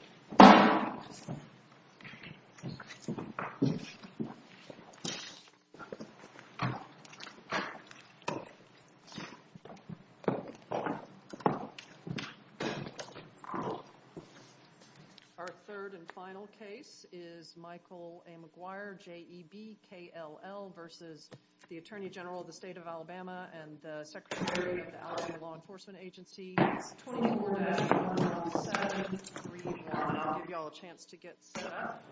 and Secretary of the Alabama Law Enforcement Agency, Tony Bourdain on the 7-381-4233. The first case is Michael A. McGuire, J.E.B.K.L.L. v. Attorney General of the State of Alabama and Secretary of the Alabama Law Enforcement Agency, Tony Bourdain on the 7-381-4233. I'll give you all a chance to get set up.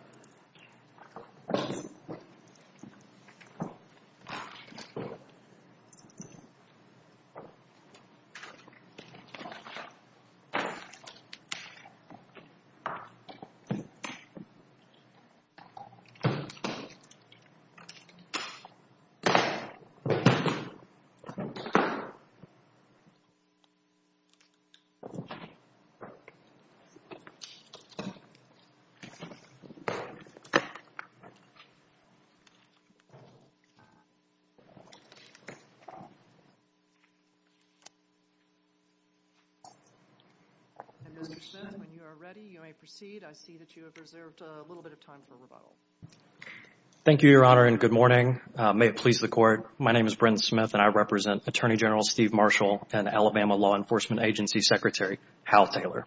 Mr. Smith, when you are ready, you may proceed. I see that you have reserved a little bit of time for rebuttal. Thank you, Your Honor, and good morning. May it please the Court, my name is Bryn Smith and I represent Attorney General Steve Marshall and Alabama Law Enforcement Agency Secretary Hal Taylor.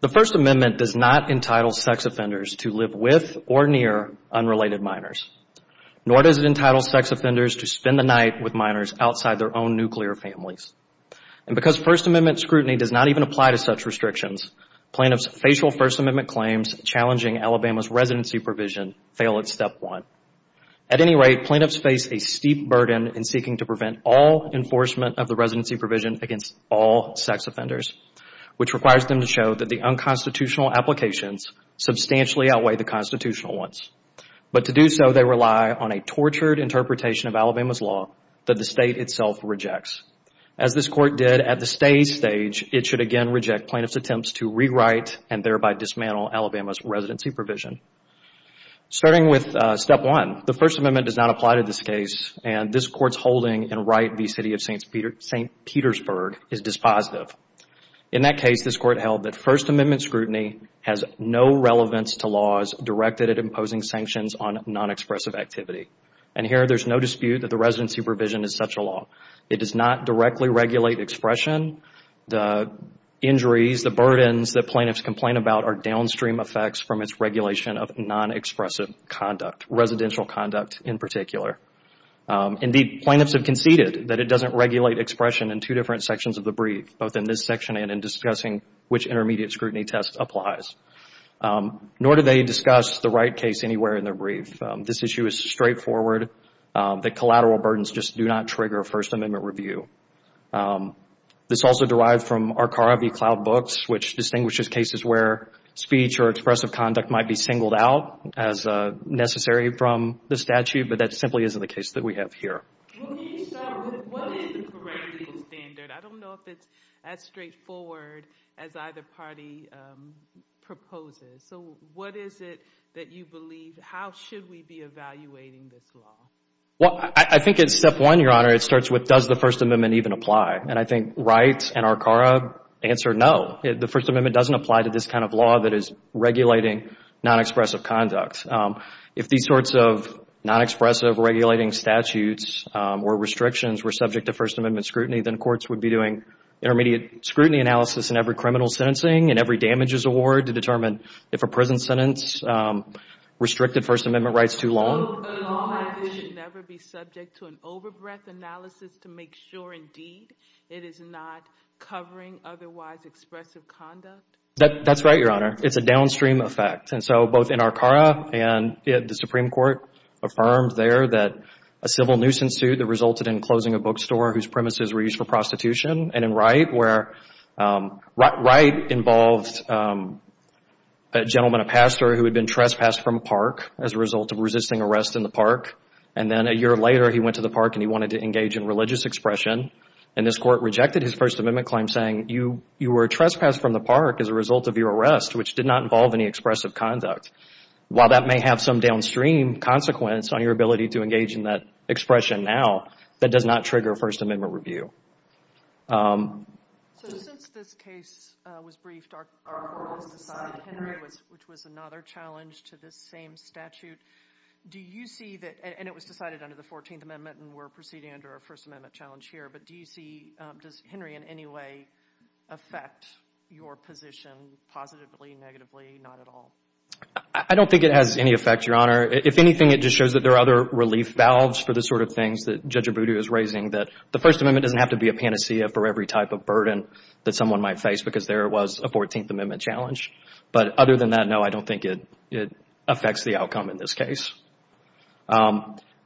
The First Amendment does not entitle sex offenders to live with or near unrelated minors, nor does it entitle sex offenders to spend the night with minors outside their own nuclear families. And because First Amendment scrutiny does not even apply to such restrictions, plaintiffs' facial First Amendment claims challenging Alabama's residency provision fail at step one. At any rate, plaintiffs face a steep burden in seeking to prevent all enforcement of the residency provision against all sex offenders. Which requires them to show that the unconstitutional applications substantially outweigh the constitutional ones. But to do so, they rely on a tortured interpretation of Alabama's law that the State itself rejects. As this Court did at the stay stage, it should again reject plaintiffs' attempts to rewrite and thereby dismantle Alabama's residency provision. Starting with step one, the First Amendment does not apply to this case and this Court's holding and right v. City of St. Petersburg is dispositive. In that case, this Court held that First Amendment scrutiny has no relevance to laws directed at imposing sanctions on nonexpressive activity. And here, there is no dispute that the residency provision is such a law. It does not directly regulate expression. The injuries, the burdens that plaintiffs complain about are downstream effects from its regulation of nonexpressive conduct, residential conduct in particular. Indeed, plaintiffs have conceded that it doesn't regulate expression in two different sections of the brief, both in this section and in discussing which intermediate scrutiny test applies. Nor do they discuss the right case anywhere in their brief. This issue is straightforward. The collateral burdens just do not trigger a First Amendment review. This is also derived from Arcara v. Cloud Books, which distinguishes cases where speech or expressive conduct might be singled out as necessary from the statute, but that simply isn't the case that we have here. Can you start with what is the correct legal standard? I don't know if it's as straightforward as either party proposes. So what is it that you believe, how should we be evaluating this law? Well, I think it's step one, Your Honor. It starts with does the First Amendment even apply? And I think Wright and Arcara answer no. The First Amendment doesn't apply to this kind of law that is regulating nonexpressive conduct. If these sorts of nonexpressive regulating statutes or restrictions were subject to First Amendment scrutiny, then courts would be doing intermediate scrutiny analysis in every criminal sentencing and every damages award to determine if a prison sentence restricted First Amendment rights too long. So a law like this should never be subject to an overbreath analysis to make sure, indeed, it is not covering otherwise expressive conduct? That's right, Your Honor. It's a downstream effect. And so both in Arcara and the Supreme Court affirmed there that a civil nuisance suit that resulted in closing a bookstore whose premises were used for prostitution, and in Wright where Wright involved a gentleman, a pastor, who had been trespassed from a park as a result of resisting arrest in the park. And then a year later, he went to the park and he wanted to engage in religious expression. And this court rejected his First Amendment claim saying you were trespassed from the park as a result of your arrest, which did not involve any expressive conduct. While that may have some downstream consequence on your ability to engage in that expression now, that does not trigger First Amendment review. So since this case was briefed, Arcara was decided, Henry, which was another challenge to this same statute, do you see that, and it was decided under the 14th Amendment and we're proceeding under a First Amendment challenge here, but do you see, does Henry in any way affect your position positively, negatively, not at all? I don't think it has any effect, Your Honor. If anything, it just shows that there are other relief valves for the sort of things that Judge Abudu is raising, that the First Amendment doesn't have to be a panacea for every type of burden that someone might face because there was a 14th Amendment challenge. But other than that, no, I don't think it affects the outcome in this case.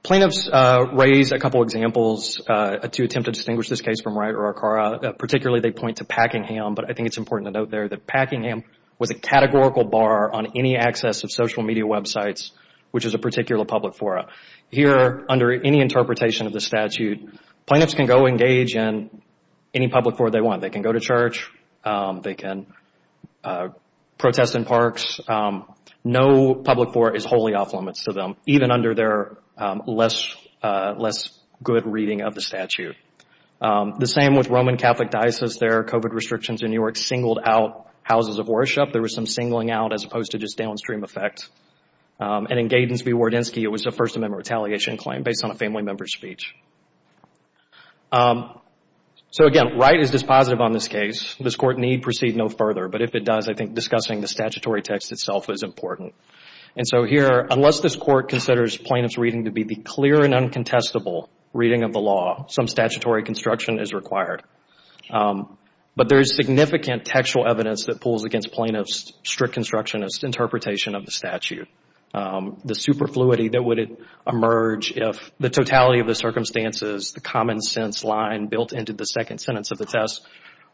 Plaintiffs raised a couple of examples to attempt to distinguish this case from Wright or Arcara. Particularly, they point to Packingham, but I think it's important to note there that Packingham was a categorical bar on any access of social media websites, which is a particular public forum. Here, under any interpretation of the statute, plaintiffs can go engage in any public forum they want. They can go to church. They can protest in parks. No public forum is wholly off limits to them, even under their less good reading of the statute. The same with Roman Catholic Diocese. Their COVID restrictions in New York singled out houses of worship. There was some singling out as opposed to just downstream effect. In Gadens v. Wardensky, it was a First Amendment retaliation claim based on a family member's speech. Again, Wright is dispositive on this case. This Court need proceed no further, but if it does, I think discussing the statutory text itself is important. Here, unless this Court considers plaintiff's reading to be the clear and uncontestable reading of the law, some statutory construction is required. But there is significant textual evidence that pulls against plaintiffs' strict constructionist interpretation of the statute. The superfluity that would emerge if the totality of the circumstances, the common sense line built into the second sentence of the test,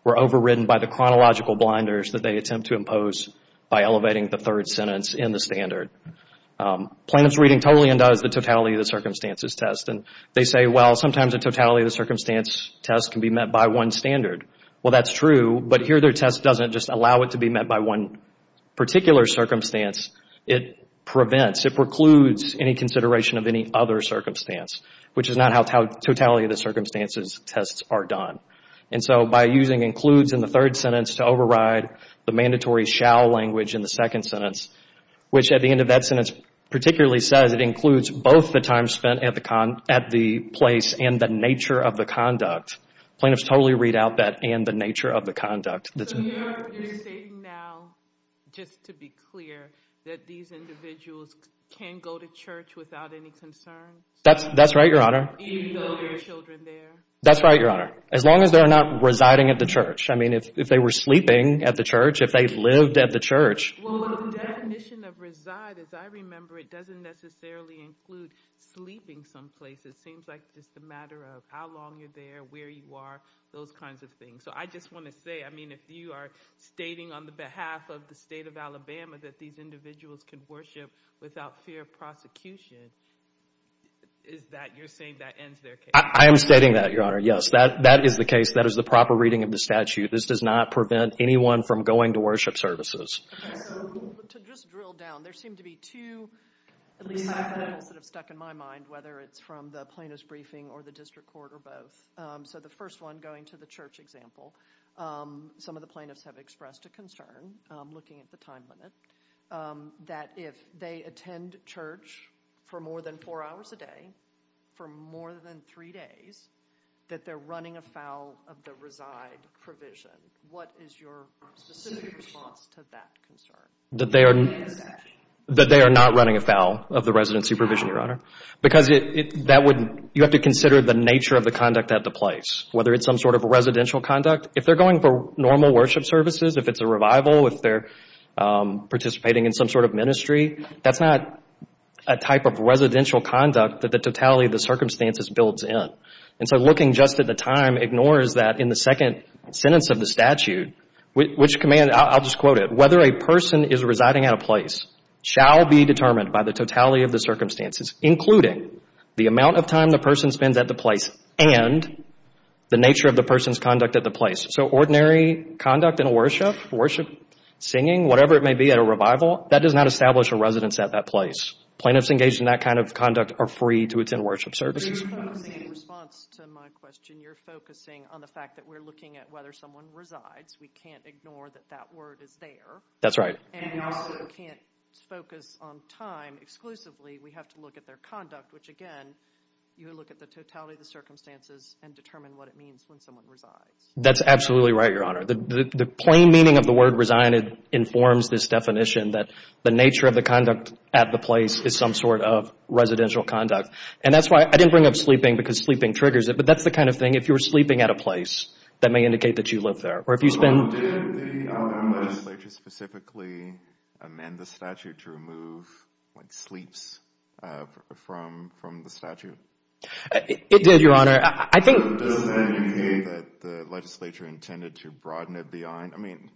were overridden by the chronological blinders that they attempt to impose by elevating the third sentence in the standard. Plaintiff's reading totally undoes the totality of the circumstances test. They say, well, sometimes the totality of the circumstance test can be met by one standard. Well, that's true, but here their test doesn't just allow it to be met by one particular circumstance. It prevents, it precludes any consideration of any other circumstance, which is not how totality of the circumstances tests are done. And so by using includes in the third sentence to override the mandatory shall language in the second sentence, which at the end of that sentence particularly says it includes both the time spent at the place and the nature of the conduct, plaintiffs totally read out that and the nature of the conduct. So you're saying now, just to be clear, that these individuals can go to church without any concerns? That's right, Your Honor. Even though there are children there? That's right, Your Honor. As long as they're not residing at the church. I mean, if they were sleeping at the church, if they lived at the church. Well, the definition of reside, as I remember it, doesn't necessarily include sleeping someplace. It seems like just a matter of how long you're there, where you are, those kinds of things. So I just want to say, I mean, if you are stating on the behalf of the state of Alabama that these individuals can worship without fear of prosecution, is that you're saying that ends their case? I am stating that, Your Honor, yes. That is the case. That is the proper reading of the statute. This does not prevent anyone from going to worship services. Okay, so to just drill down, there seem to be two, at least five items that have stuck in my mind, whether it's from the plaintiff's briefing or the district court or both. So the first one, going to the church example, some of the plaintiffs have expressed a concern, looking at the time limit, that if they attend church for more than four hours a day, for more than three days, that they're running afoul of the reside provision. What is your specific response to that concern? That they are not running afoul of the resident supervision, Your Honor, because you have to consider the nature of the conduct at the place, whether it's some sort of residential conduct. If they're going for normal worship services, if it's a revival, if they're participating in some sort of ministry, that's not a type of residential conduct that the totality of the circumstances builds in. And so looking just at the time ignores that in the second sentence of the statute, which commands, I'll just quote it, whether a person is residing at a place shall be determined by the totality of the circumstances, including the amount of time the person spends at the place and the nature of the person's conduct at the place. So ordinary conduct in worship, worship, singing, whatever it may be at a revival, that does not establish a residence at that place. Plaintiffs engaged in that kind of conduct are free to attend worship services. In response to my question, you're focusing on the fact that we're looking at whether someone resides. We can't ignore that that word is there. That's right. And we also can't focus on time exclusively. We have to look at their conduct, which, again, you look at the totality of the circumstances and determine what it means when someone resides. That's absolutely right, Your Honor. The plain meaning of the word reside informs this definition that the nature of the conduct at the place is some sort of residential conduct. And that's why I didn't bring up sleeping because sleeping triggers it, but that's the kind of thing, if you're sleeping at a place, that may indicate that you live there. Or if you spend— Did the legislature specifically amend the statute to remove sleeps from the statute? It did, Your Honor. I think— Does that indicate that the legislature intended to broaden it beyond— I mean,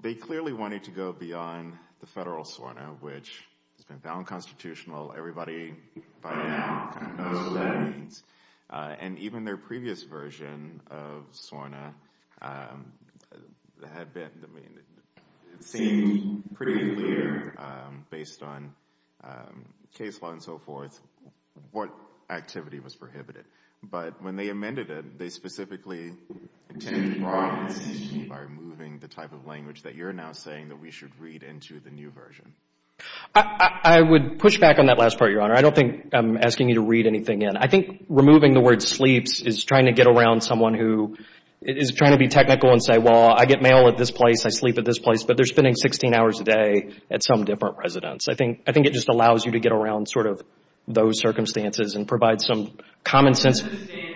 they clearly wanted to go beyond the federal SORNA, which has been found constitutional. Everybody by now kind of knows what that means. And even their previous version of SORNA had been— I mean, it seemed pretty clear, based on case law and so forth, what activity was prohibited. But when they amended it, they specifically intended to broaden the statute by removing the type of language that you're now saying that we should read into the new version. I would push back on that last part, Your Honor. I don't think I'm asking you to read anything in. I think removing the word sleeps is trying to get around someone who is trying to be technical and say, well, I get mail at this place, I sleep at this place, but they're spending 16 hours a day at some different residence. I think it just allows you to get around sort of those circumstances and provide some common sense. I don't understand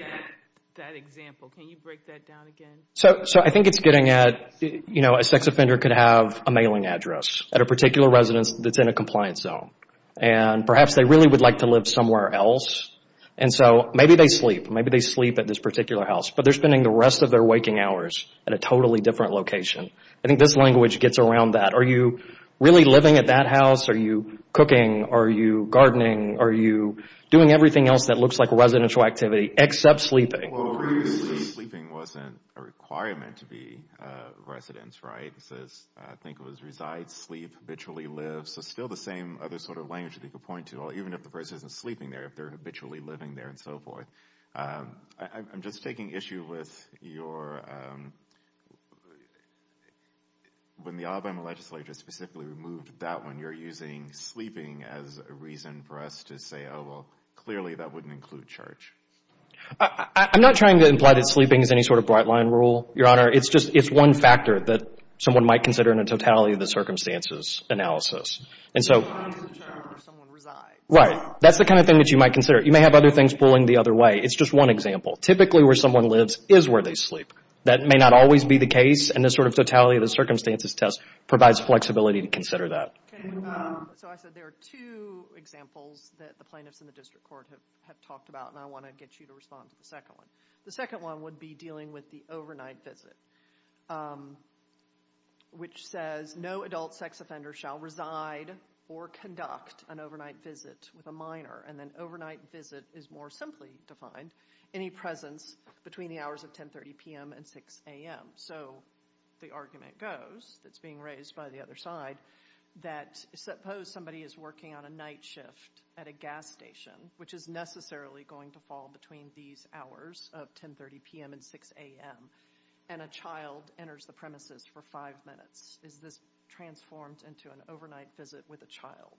that example. Can you break that down again? So I think it's getting at, you know, a sex offender could have a mailing address at a particular residence that's in a compliance zone. And perhaps they really would like to live somewhere else, and so maybe they sleep. Maybe they sleep at this particular house, but they're spending the rest of their waking hours at a totally different location. I think this language gets around that. Are you really living at that house? Are you cooking? Are you gardening? Are you doing everything else that looks like residential activity except sleeping? Well, previously sleeping wasn't a requirement to be residence, right? It says, I think it was reside, sleep, habitually live. So still the same other sort of language that you could point to, even if the person isn't sleeping there, if they're habitually living there and so forth. I'm just taking issue with your, when the Alabama legislature specifically removed that one, you're using sleeping as a reason for us to say, oh, well, clearly that wouldn't include charge. I'm not trying to imply that sleeping is any sort of bright line rule, Your Honor. It's just one factor that someone might consider in a totality of the circumstances analysis. And so, right, that's the kind of thing that you might consider. You may have other things pulling the other way. It's just one example. Typically where someone lives is where they sleep. That may not always be the case, and this sort of totality of the circumstances test provides flexibility to consider that. So I said there are two examples that the plaintiffs in the district court have talked about, and I want to get you to respond to the second one. The second one would be dealing with the overnight visit, which says no adult sex offender shall reside or conduct an overnight visit with a minor. And then overnight visit is more simply defined, any presence between the hours of 10.30 p.m. and 6.00 a.m. So the argument goes, that's being raised by the other side, that suppose somebody is working on a night shift at a gas station, which is necessarily going to fall between these hours of 10.30 p.m. and 6.00 a.m., and a child enters the premises for five minutes. Is this transformed into an overnight visit with a child?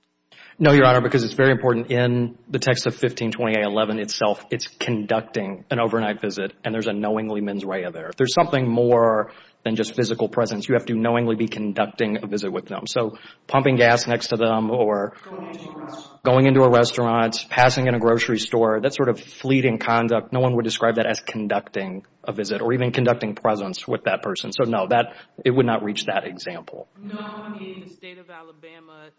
No, Your Honor, because it's very important in the text of 1520A11 itself. It's conducting an overnight visit, and there's a knowingly mens rea there. If there's something more than just physical presence, you have to knowingly be conducting a visit with them. So pumping gas next to them or going into a restaurant, passing in a grocery store, that sort of fleeting conduct, no one would describe that as conducting a visit or even conducting presence with that person. So no, it would not reach that example. No, I mean, the state of Alabama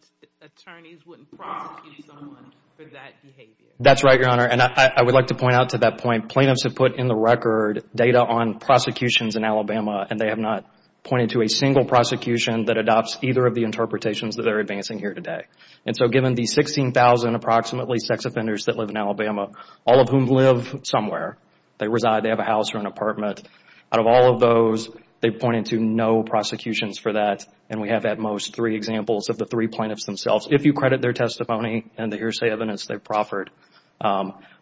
attorneys wouldn't prosecute someone for that behavior. That's right, Your Honor, and I would like to point out to that point, plaintiffs have put in the record data on prosecutions in Alabama, and they have not pointed to a single prosecution that adopts either of the interpretations that they're advancing here today. And so given the 16,000 approximately sex offenders that live in Alabama, all of whom live somewhere, they reside, they have a house or an apartment, out of all of those, they've pointed to no prosecutions for that, and we have at most three examples of the three plaintiffs themselves. If you credit their testimony and the hearsay evidence they've proffered,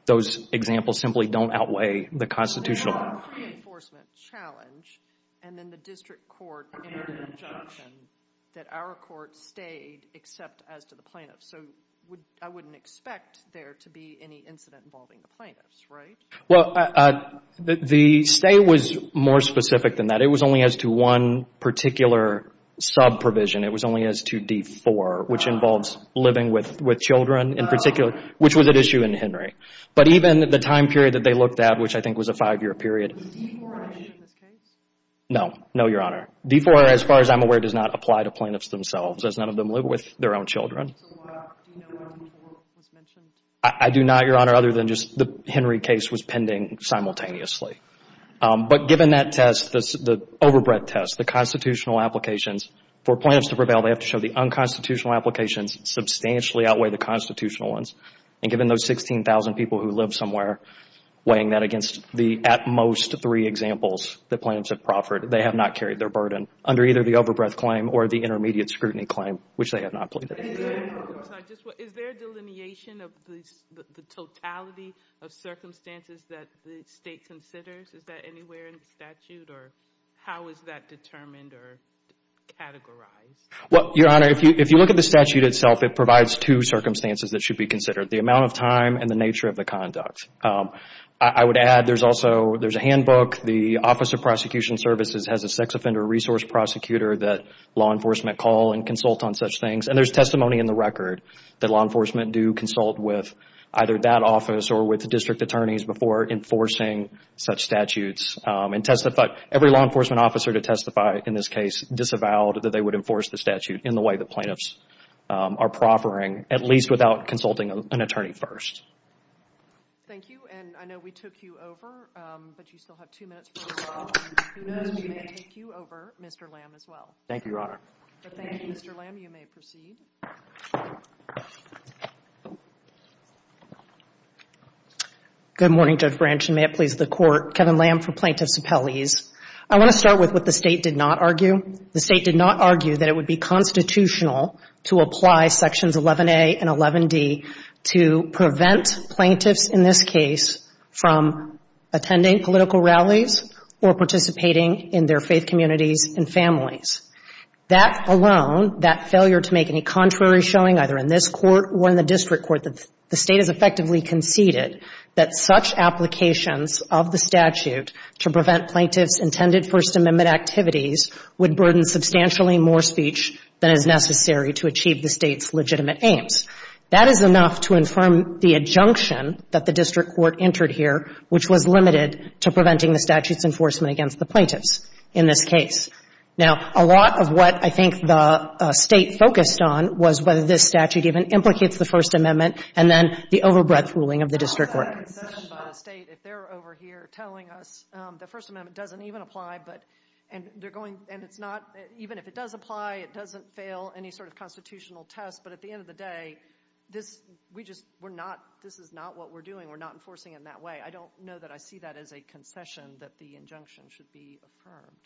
those examples simply don't outweigh the constitutional. We have a pre-enforcement challenge, and then the district court entered an injunction that our court stayed except as to the plaintiffs. So I wouldn't expect there to be any incident involving the plaintiffs, right? Well, the stay was more specific than that. It was only as to one particular sub-provision. It was only as to D-4, which involves living with children in particular, which was at issue in Henry. But even the time period that they looked at, which I think was a five-year period. Was D-4 mentioned in this case? No. No, Your Honor. D-4, as far as I'm aware, does not apply to plaintiffs themselves, as none of them live with their own children. So why do you know when D-4 was mentioned? I do not, Your Honor, other than just the Henry case was pending simultaneously. But given that test, the over-breath test, the constitutional applications, for plaintiffs to prevail, they have to show the unconstitutional applications substantially outweigh the constitutional ones. And given those 16,000 people who live somewhere, weighing that against the at most three examples that plaintiffs have proffered, they have not carried their burden under either the over-breath claim or the intermediate scrutiny claim, which they have not pleaded. Is there a delineation of the totality of circumstances that the State considers? Is that anywhere in the statute? Or how is that determined or categorized? Well, Your Honor, if you look at the statute itself, it provides two circumstances that should be considered, the amount of time and the nature of the conduct. I would add there's also a handbook. The Office of Prosecution Services has a sex offender resource prosecutor that law enforcement call and consult on such things. And there's testimony in the record that law enforcement do consult with either that office or with the district attorneys before enforcing such statutes and testify. Every law enforcement officer to testify in this case disavowed that they would enforce the statute in the way that plaintiffs are proffering, at least without consulting an attorney first. Thank you. And I know we took you over, but you still have two minutes. Who knows, we may take you over, Mr. Lamb, as well. Thank you, Your Honor. But thank you, Mr. Lamb. You may proceed. Good morning, Judge Branch. And may it please the Court. Kevin Lamb for Plaintiffs Appellees. I want to start with what the State did not argue. The State did not argue that it would be constitutional to apply Sections 11a and 11d to prevent plaintiffs in this case from attending political rallies or participating in their faith communities and families. That alone, that failure to make any contrary showing, either in this Court or in the district court, that the State has effectively conceded that such applications of the statute to prevent plaintiffs' intended First Amendment activities would burden substantially more speech than is necessary to achieve the State's legitimate aims. That is enough to infirm the adjunction that the district court entered here, which was limited to preventing the statute's enforcement against the plaintiffs in this case. Now, a lot of what I think the State focused on was whether this statute even implicates the First Amendment and then the overbreadth ruling of the district court. The State, if they're over here telling us the First Amendment doesn't even apply, and even if it does apply, it doesn't fail any sort of constitutional test. But at the end of the day, this is not what we're doing. We're not enforcing it in that way. I don't know that I see that as a concession that the injunction should be affirmed.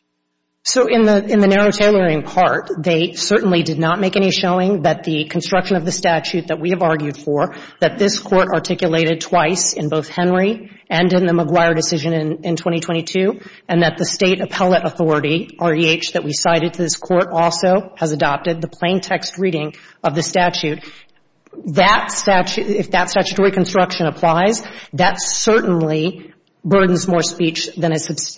So in the narrow tailoring part, they certainly did not make any showing that the construction of the statute that we have argued for, that this Court articulated twice in both Henry and in the Maguire decision in 2022, and that the State appellate authority, REH, that we cited to this Court also has adopted the plain text reading of the statute. That statute, if that statutory construction applies, that certainly burdens more speech than is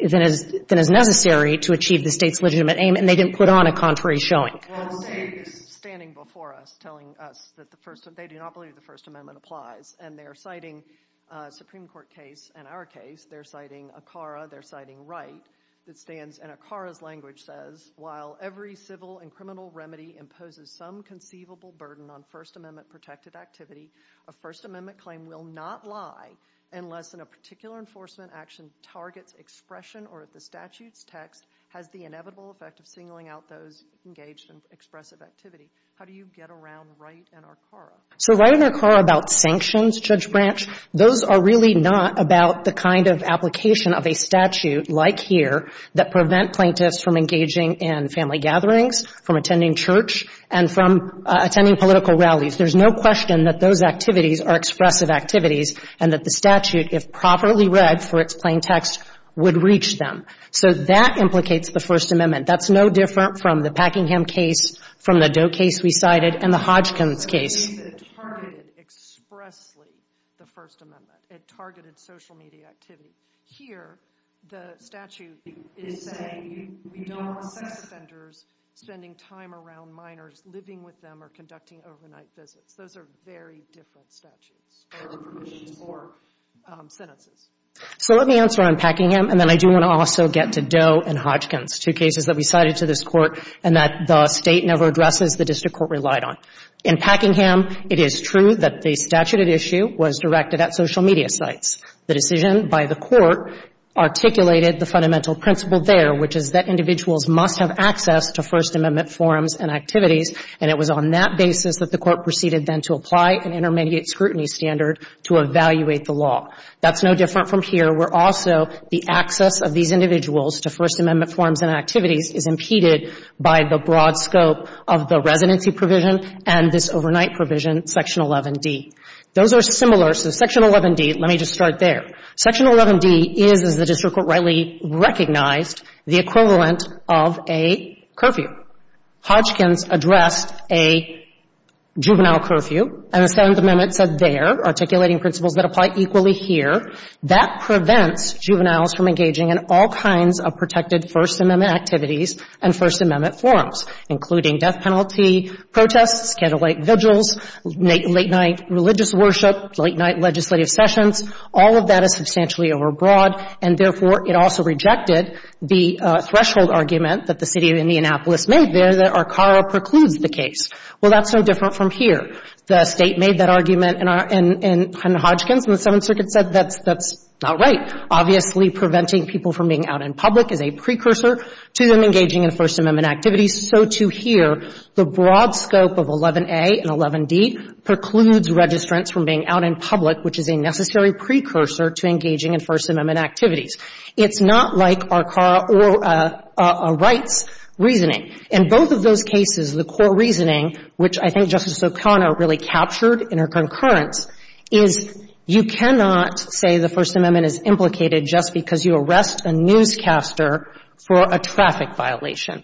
necessary to achieve the State's legitimate aim, and they didn't put on a contrary showing. Well, the State is standing before us telling us that the First — they do not believe the First Amendment applies, and they are citing a Supreme Court case and our case. They're citing ACARA. They're citing Wright. It stands, and ACARA's language says, while every civil and criminal remedy imposes some conceivable burden on First Amendment-protected activity, a First Amendment claim will not lie unless in a particular enforcement action targets expression or if the statute's text has the inevitable effect of singling out those engaged in expressive activity. How do you get around Wright and ACARA? So Wright and ACARA about sanctions, Judge Branch, those are really not about the kind of application of a statute like here that prevent plaintiffs from engaging in family gatherings, from attending church, and from attending political rallies. There's no question that those activities are expressive activities and that the statute, if properly read for its plain text, would reach them. So that implicates the First Amendment. That's no different from the Packingham case, from the Doe case we cited, and the Hodgkins case. It targeted expressly the First Amendment. It targeted social media activity. Here, the statute is saying you don't want sex offenders spending time around minors, living with them, or conducting overnight visits. Those are very different statutes or provisions or sentences. So let me answer on Packingham, and then I do want to also get to Doe and Hodgkins, two cases that we cited to this Court and that the State never addresses, the District Court relied on. In Packingham, it is true that the statute at issue was directed at social media sites. The decision by the Court articulated the fundamental principle there, which is that individuals must have access to First Amendment forms and activities, and it was on that basis that the Court proceeded then to apply an intermediate scrutiny standard to evaluate the law. That's no different from here, where also the access of these individuals to First Amendment forms and activities is impeded by the broad scope of the residency provision and this overnight provision, Section 11d. Those are similar. So Section 11d, let me just start there. Section 11d is, as the District Court rightly recognized, the equivalent of a curfew. Hodgkins addressed a juvenile curfew, and the Seventh Amendment said there, articulating principles that apply equally here, that prevents juveniles from engaging in all kinds of protected First Amendment activities and First Amendment forms, including death penalty protests, candlelight vigils, late-night religious worship, late-night legislative sessions. All of that is substantially overbroad, and therefore, it also rejected the threshold argument that the City of Indianapolis made there, that Arcara precludes the case. Well, that's no different from here. The State made that argument in Hodgkins, and the Seventh Circuit said that's not right. Obviously, preventing people from being out in public is a precursor to them engaging in First Amendment activities. So, too, here, the broad scope of 11a and 11d precludes registrants from being out in public, which is a necessary precursor to engaging in First Amendment activities. It's not like Arcara or Wright's reasoning. In both of those cases, the court reasoning, which I think Justice O'Connor really captured in her concurrence, is you cannot say the First Amendment is implicated just because you arrest a newscaster for a traffic violation.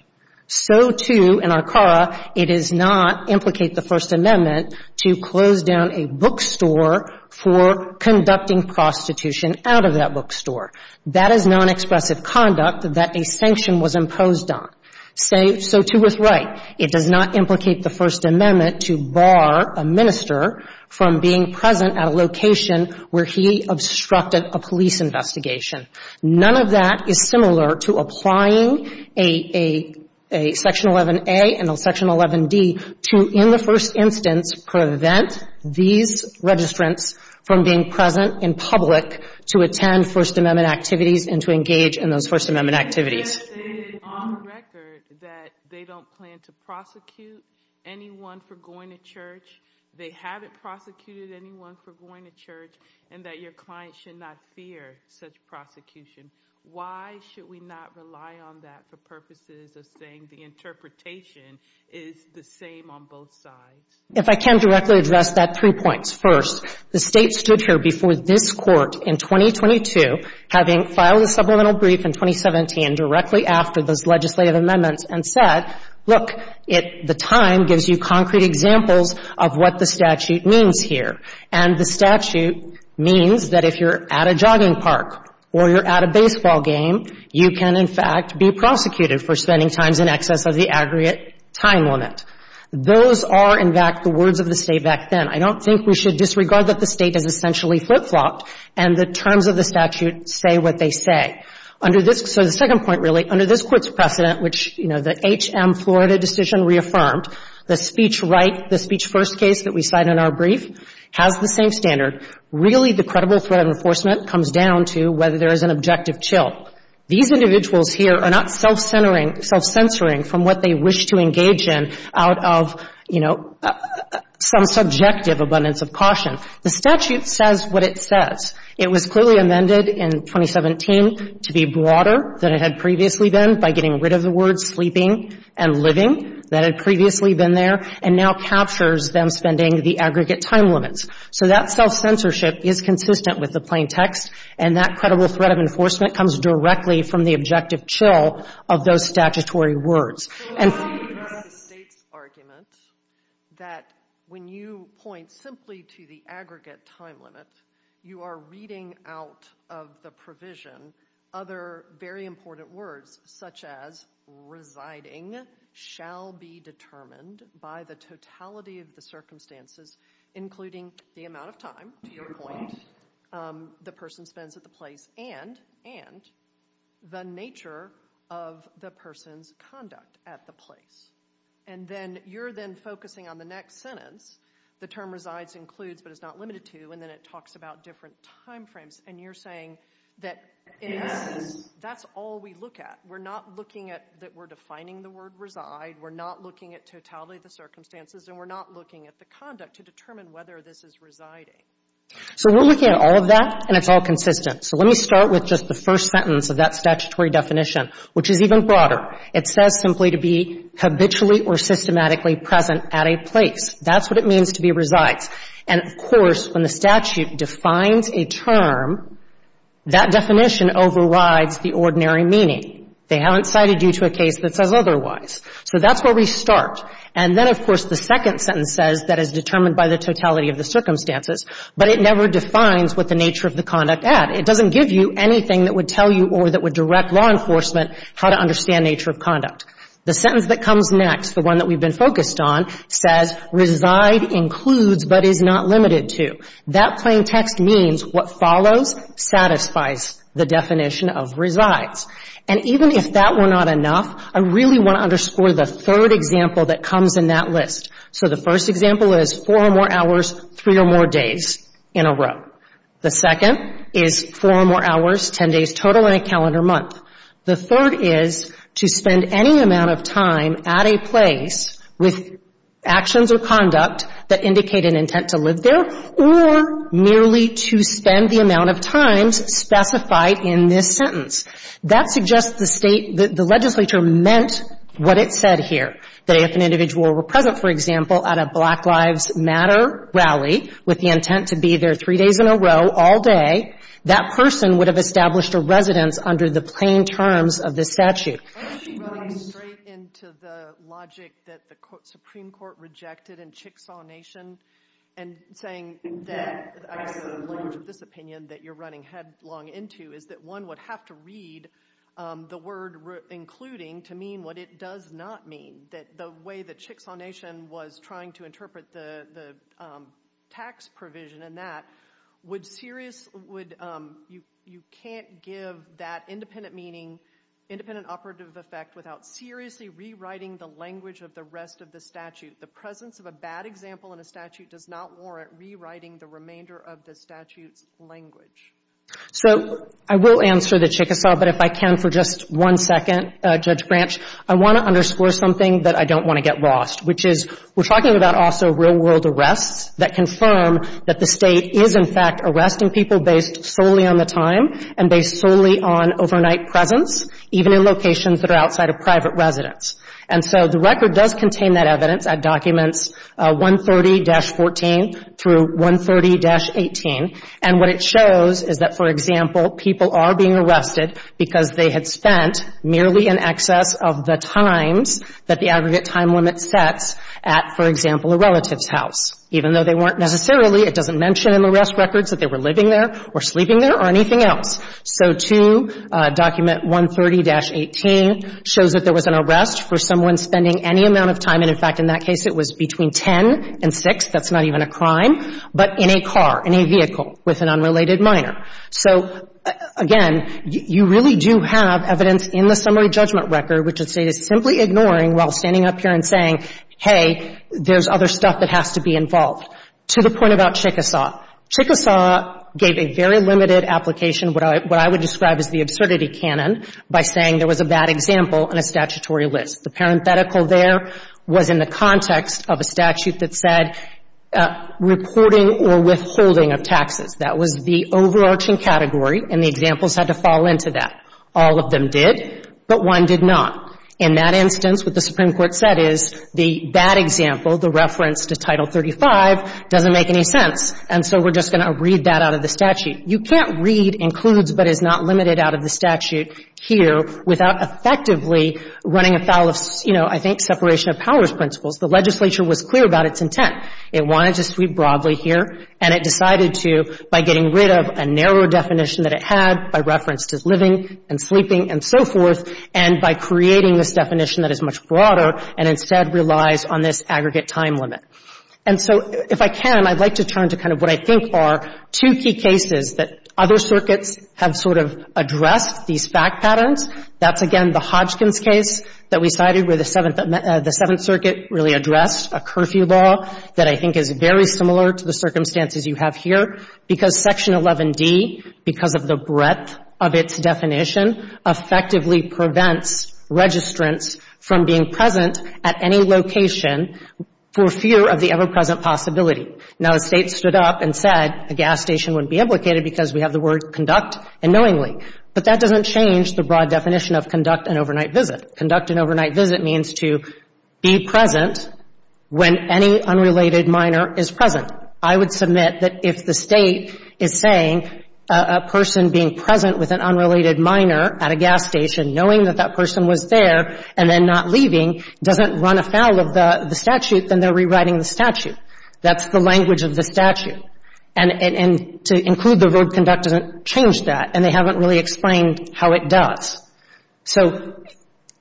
So, too, in Arcara, it does not implicate the First Amendment to close down a bookstore for conducting prostitution out of that bookstore. That is non-expressive conduct that a sanction was imposed on. So, too, with Wright, it does not implicate the First Amendment to bar a minister from being present at a location where he obstructed a police investigation. None of that is similar to applying a section 11a and a section 11d to, in the first instance, prevent these registrants from being present in public to attend First Amendment activities and to engage in those First Amendment activities. You have stated on record that they don't plan to prosecute anyone for going to church, they haven't prosecuted anyone for going to church, and that your client should not fear such prosecution. Why should we not rely on that for purposes of saying the interpretation is the same on both sides? If I can directly address that, three points. First, the State stood here before this Court in 2022, having filed a supplemental brief in 2017 directly after those legislative amendments, and said, look, the time gives you concrete examples of what the statute means here. And the statute means that if you're at a jogging park or you're at a baseball game, you can, in fact, be prosecuted for spending times in excess of the aggregate time limit. Those are, in fact, the words of the State back then. I don't think we should disregard that the State has essentially flip-flopped, and the terms of the statute say what they say. Under this — so the second point, really, under this Court's precedent, which, you know, the H.M. Florida decision reaffirmed, the speech right, the speech first case that we cite in our brief has the same standard. Really, the credible threat of enforcement comes down to whether there is an objective chill. These individuals here are not self-centering — self-censoring from what they wish to engage in out of, you know, some subjective abundance of caution. The statute says what it says. It was clearly amended in 2017 to be broader than it had previously been by getting rid of the words sleeping and living that had previously been there, and now captures them spending the aggregate time limits. So that self-censorship is consistent with the plain text, and that credible threat of enforcement comes directly from the objective chill of those statutory words. So why do you have the State's argument that when you point simply to the aggregate time limit, you are reading out of the provision other very important words, such as residing shall be determined by the totality of the circumstances, including the amount of time, to your point, the person spends at the place, and the nature of the person's conduct at the place. And then you're then focusing on the next sentence. The term resides includes, but is not limited to, and then it talks about different time frames, and you're saying that that's all we look at. We're not looking at that we're defining the word reside. We're not looking at totality of the circumstances, and we're not looking at the conduct to determine whether this is residing. So we're looking at all of that, and it's all consistent. So let me start with just the first sentence of that statutory definition, which is even broader. It says simply to be habitually or systematically present at a place. That's what it means to be resides. And, of course, when the statute defines a term, that definition overrides the ordinary meaning. They haven't cited you to a case that says otherwise. So that's where we start. And then, of course, the second sentence says that is determined by the totality of the circumstances, but it never defines what the nature of the conduct at. It doesn't give you anything that would tell you or that would direct law enforcement how to understand nature of conduct. The sentence that comes next, the one that we've been focused on, says reside includes, but is not limited to. That plain text means what follows satisfies the definition of resides. And even if that were not enough, I really want to underscore the third example that comes in that list. So the first example is four or more hours, three or more days in a row. The second is four or more hours, ten days total, and a calendar month. The third is to spend any amount of time at a place with actions or conduct that indicate an intent to live there, or merely to spend the amount of times specified in this sentence. That suggests the State, the legislature meant what it said here, that if an individual were present, for example, at a Black Lives Matter rally with the intent to be there three days in a row all day, that person would have established a residence under the plain terms of this statute. Aren't you running straight into the logic that the Supreme Court rejected in Chicksaw Nation and saying that the language of this opinion that you're running headlong into is that one would have to read the word including to mean what it does not mean. That the way that Chicksaw Nation was trying to interpret the tax provision and that, would serious, you can't give that independent meaning, independent operative effect without seriously rewriting the language of the rest of the statute. The presence of a bad example in a statute does not warrant rewriting the remainder of the statute's language. So I will answer the Chickasaw, but if I can for just one second, Judge Branch, I want to underscore something that I don't want to get lost, which is we're talking about real-world arrests that confirm that the State is in fact arresting people based solely on the time and based solely on overnight presence, even in locations that are outside of private residence. And so the record does contain that evidence at documents 130-14 through 130-18. And what it shows is that, for example, people are being arrested because they had spent merely in excess of the times that the aggregate time limit sets at, for example, a relative's house, even though they weren't necessarily, it doesn't mention in the arrest records that they were living there or sleeping there or anything else. So to document 130-18 shows that there was an arrest for someone spending any amount of time, and in fact in that case it was between 10 and 6, that's not even a crime, but in a car, in a vehicle with an unrelated minor. So, again, you really do have evidence in the summary judgment record which the State is simply ignoring while standing up here and saying, hey, there's other stuff that has to be involved. To the point about Chickasaw, Chickasaw gave a very limited application, what I would describe as the absurdity canon, by saying there was a bad example on a statutory list. The parenthetical there was in the context of a statute that said reporting or withholding of taxes. That was the overarching category, and the examples had to fall into that. All of them did, but one did not. In that instance, what the Supreme Court said is the bad example, the reference to Title 35, doesn't make any sense, and so we're just going to read that out of the statute. You can't read includes but is not limited out of the statute here without effectively running afoul of, you know, I think separation of powers principles. The legislature was clear about its intent. It wanted to speak broadly here, and it decided to, by getting rid of a narrow definition that it had, by reference to living and sleeping and so forth, and by creating this definition that is much broader and instead relies on this aggregate time limit. And so if I can, I'd like to turn to kind of what I think are two key cases that other circuits have sort of addressed these fact patterns. That's, again, the Hodgkin's case that we cited where the Seventh — the Seventh Circuit really addressed a curfew law that I think is very similar to the circumstances you have here, because Section 11d, because of the breadth of its definition, effectively prevents registrants from being present at any location for fear of the ever-present possibility. Now, the State stood up and said a gas station wouldn't be implicated because we have the word conduct unknowingly. But that doesn't change the broad definition of conduct an overnight visit. Conduct an overnight visit means to be present when any unrelated minor is present. I would submit that if the State is saying a person being present with an unrelated minor at a gas station, knowing that that person was there and then not leaving, doesn't run afoul of the statute, then they're rewriting the statute. That's the language of the statute. And to include the verb conduct doesn't change that, and they haven't really explained how it does. So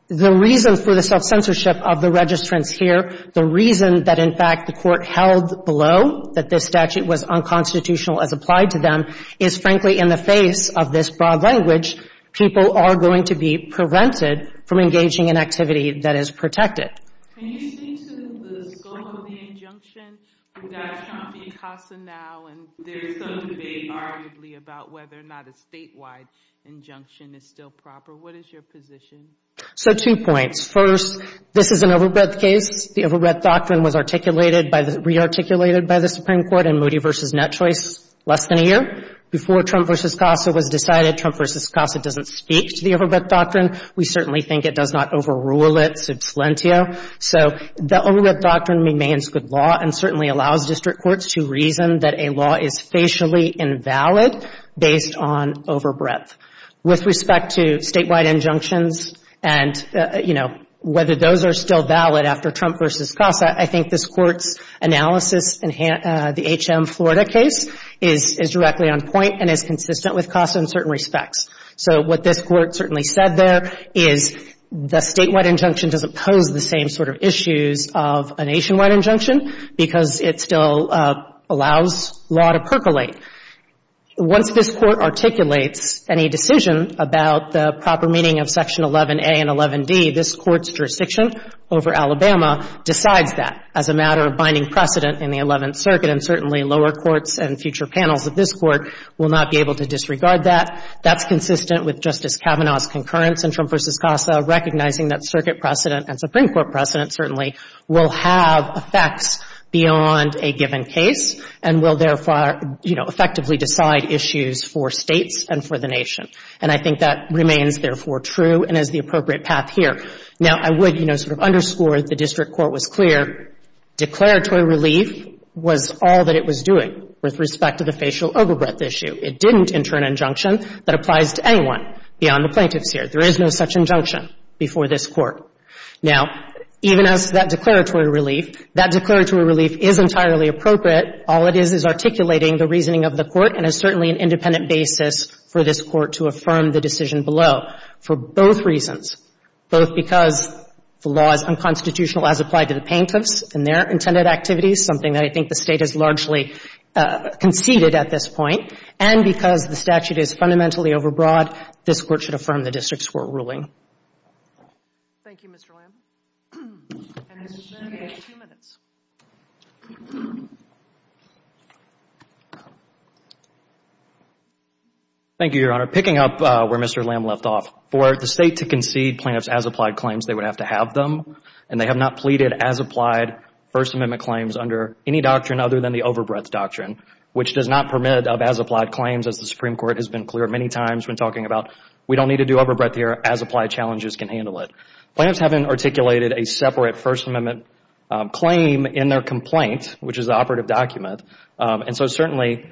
the reason for the self-censorship of the registrants here, the reason that, in fact, the Court held below that this statute was unconstitutional as applied to them, is, frankly, in the face of this broad language, people are going to be prevented from engaging in activity that is protected. Can you speak to the scope of the injunction that's on PCASA now? And there's some debate, arguably, about whether or not a statewide injunction is still proper. What is your position? So two points. First, this is an overbreadth case. The statute was passed less than a year before Trump v. CASA was decided. Trump v. CASA doesn't speak to the overbreadth doctrine. We certainly think it does not overrule it sub salientio. So the overbreadth doctrine remains good law and certainly allows district courts to reason that a law is facially invalid based on overbreadth. With respect to statewide injunctions and, you know, whether those are still valid after Trump v. CASA, I think this Court's analysis in the H.M. Florida case is directly on point and is consistent with CASA in certain respects. So what this Court certainly said there is the statewide injunction doesn't pose the same sort of issues of a nationwide injunction because it still allows law to percolate. Once this Court articulates any decision about the proper meaning of Section 11a and 11d, this Court's jurisdiction over Alabama decides that as a matter of binding precedent in the Eleventh Circuit. And certainly lower courts and future panels of this Court will not be able to disregard that. That's consistent with Justice Kavanaugh's concurrence in Trump v. CASA, recognizing that circuit precedent and Supreme Court precedent certainly will have effects beyond a given case and will, therefore, you know, effectively decide issues for States and for the nation. And I think that remains, therefore, true and is the appropriate path here. Now, I would, you know, sort of underscore that the district court was clear, declaratory relief was all that it was doing with respect to the facial overbreadth issue. It didn't enter an injunction that applies to anyone beyond the plaintiffs here. There is no such injunction before this Court. Now, even as that declaratory relief is entirely appropriate, all it is is articulating the reasoning of the Court and is certainly an independent basis for this Court to affirm the decision below for both reasons, both because the law is unconstitutional as applied to the plaintiffs in their intended activities, something that I think the State has largely conceded at this point, and because the statute is fundamentally overbroad, this Court should affirm the district's court ruling. Thank you, Mr. Lamb. And this has been two minutes. Thank you, Your Honor. Picking up where Mr. Lamb left off, for the State to concede plaintiffs' as-applied claims, they would have to have them, and they have not pleaded as-applied First Amendment claims under any doctrine other than the overbreadth doctrine, which does not permit of as-applied claims, as the Supreme Court has been clear many times when talking about we don't need to do overbreadth here as-applied challenges can handle it. Plaintiffs haven't articulated a separate First Amendment claim in their complaint, which is the operative document, and so certainly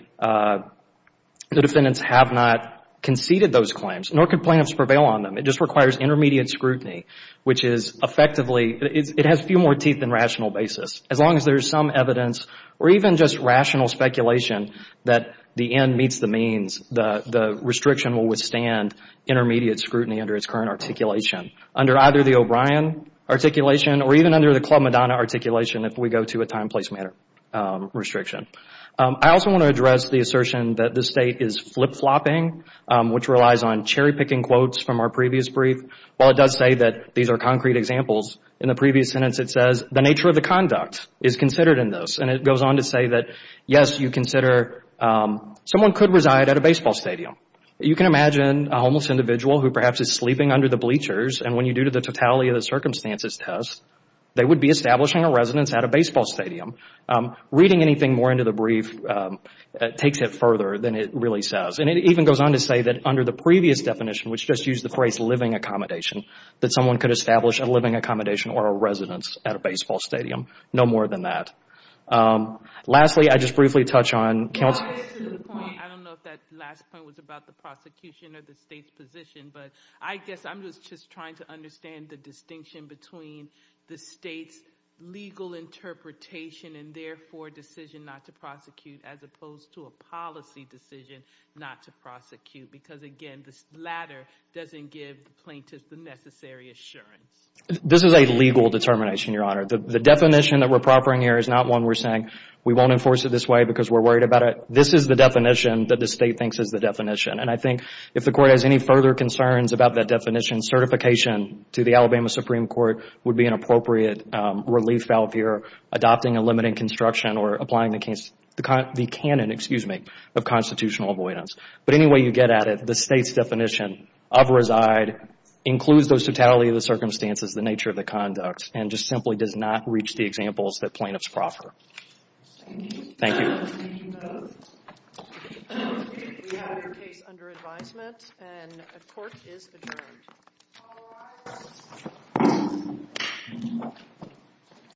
the defendants have not conceded those claims, nor could plaintiffs prevail on them. It just requires intermediate scrutiny, which is effectively, it has few more teeth than rational basis. As long as there is some evidence or even just rational speculation that the end meets the means, the restriction will withstand intermediate scrutiny under its current articulation, under either the O'Brien articulation or even under the Club Madonna articulation if we go to a time-place matter restriction. I also want to address the assertion that the State is flip-flopping, which relies on cherry-picking quotes from our previous brief. While it does say that these are concrete examples, in the previous sentence it says, the nature of the conduct is considered in this, and it goes on to say that, yes, you consider someone could reside at a baseball stadium. You can imagine a homeless individual who perhaps is sleeping under the bleachers, and when you do the totality of the circumstances test, they would be establishing a residence at a baseball stadium. Reading anything more into the brief takes it further than it really says, and it even goes on to say that under the previous definition, which just used the phrase living accommodation, that someone could establish a living accommodation or a residence at a baseball stadium, no more than that. Lastly, I just briefly touch on... I don't know if that last point was about the prosecution or the State's position, but I guess I'm just trying to understand the distinction between the State's legal interpretation and, therefore, decision not to prosecute, as opposed to a policy decision not to prosecute, because, again, this latter doesn't give the plaintiff the necessary assurance. This is a legal determination, Your Honor. The definition that we're proffering here is not one we're saying we won't enforce it this way because we're worried about it. This is the definition that the State thinks is the definition, and I think if the Court has any further concerns about that definition, certification to the Alabama Supreme Court would be an appropriate relief valve here, adopting a limiting construction or applying the canon of constitutional avoidance. But anyway you get at it, the State's definition of reside includes those totality of the circumstances, the nature of the conduct, and just simply does not reach the examples that plaintiffs proffer. Thank you.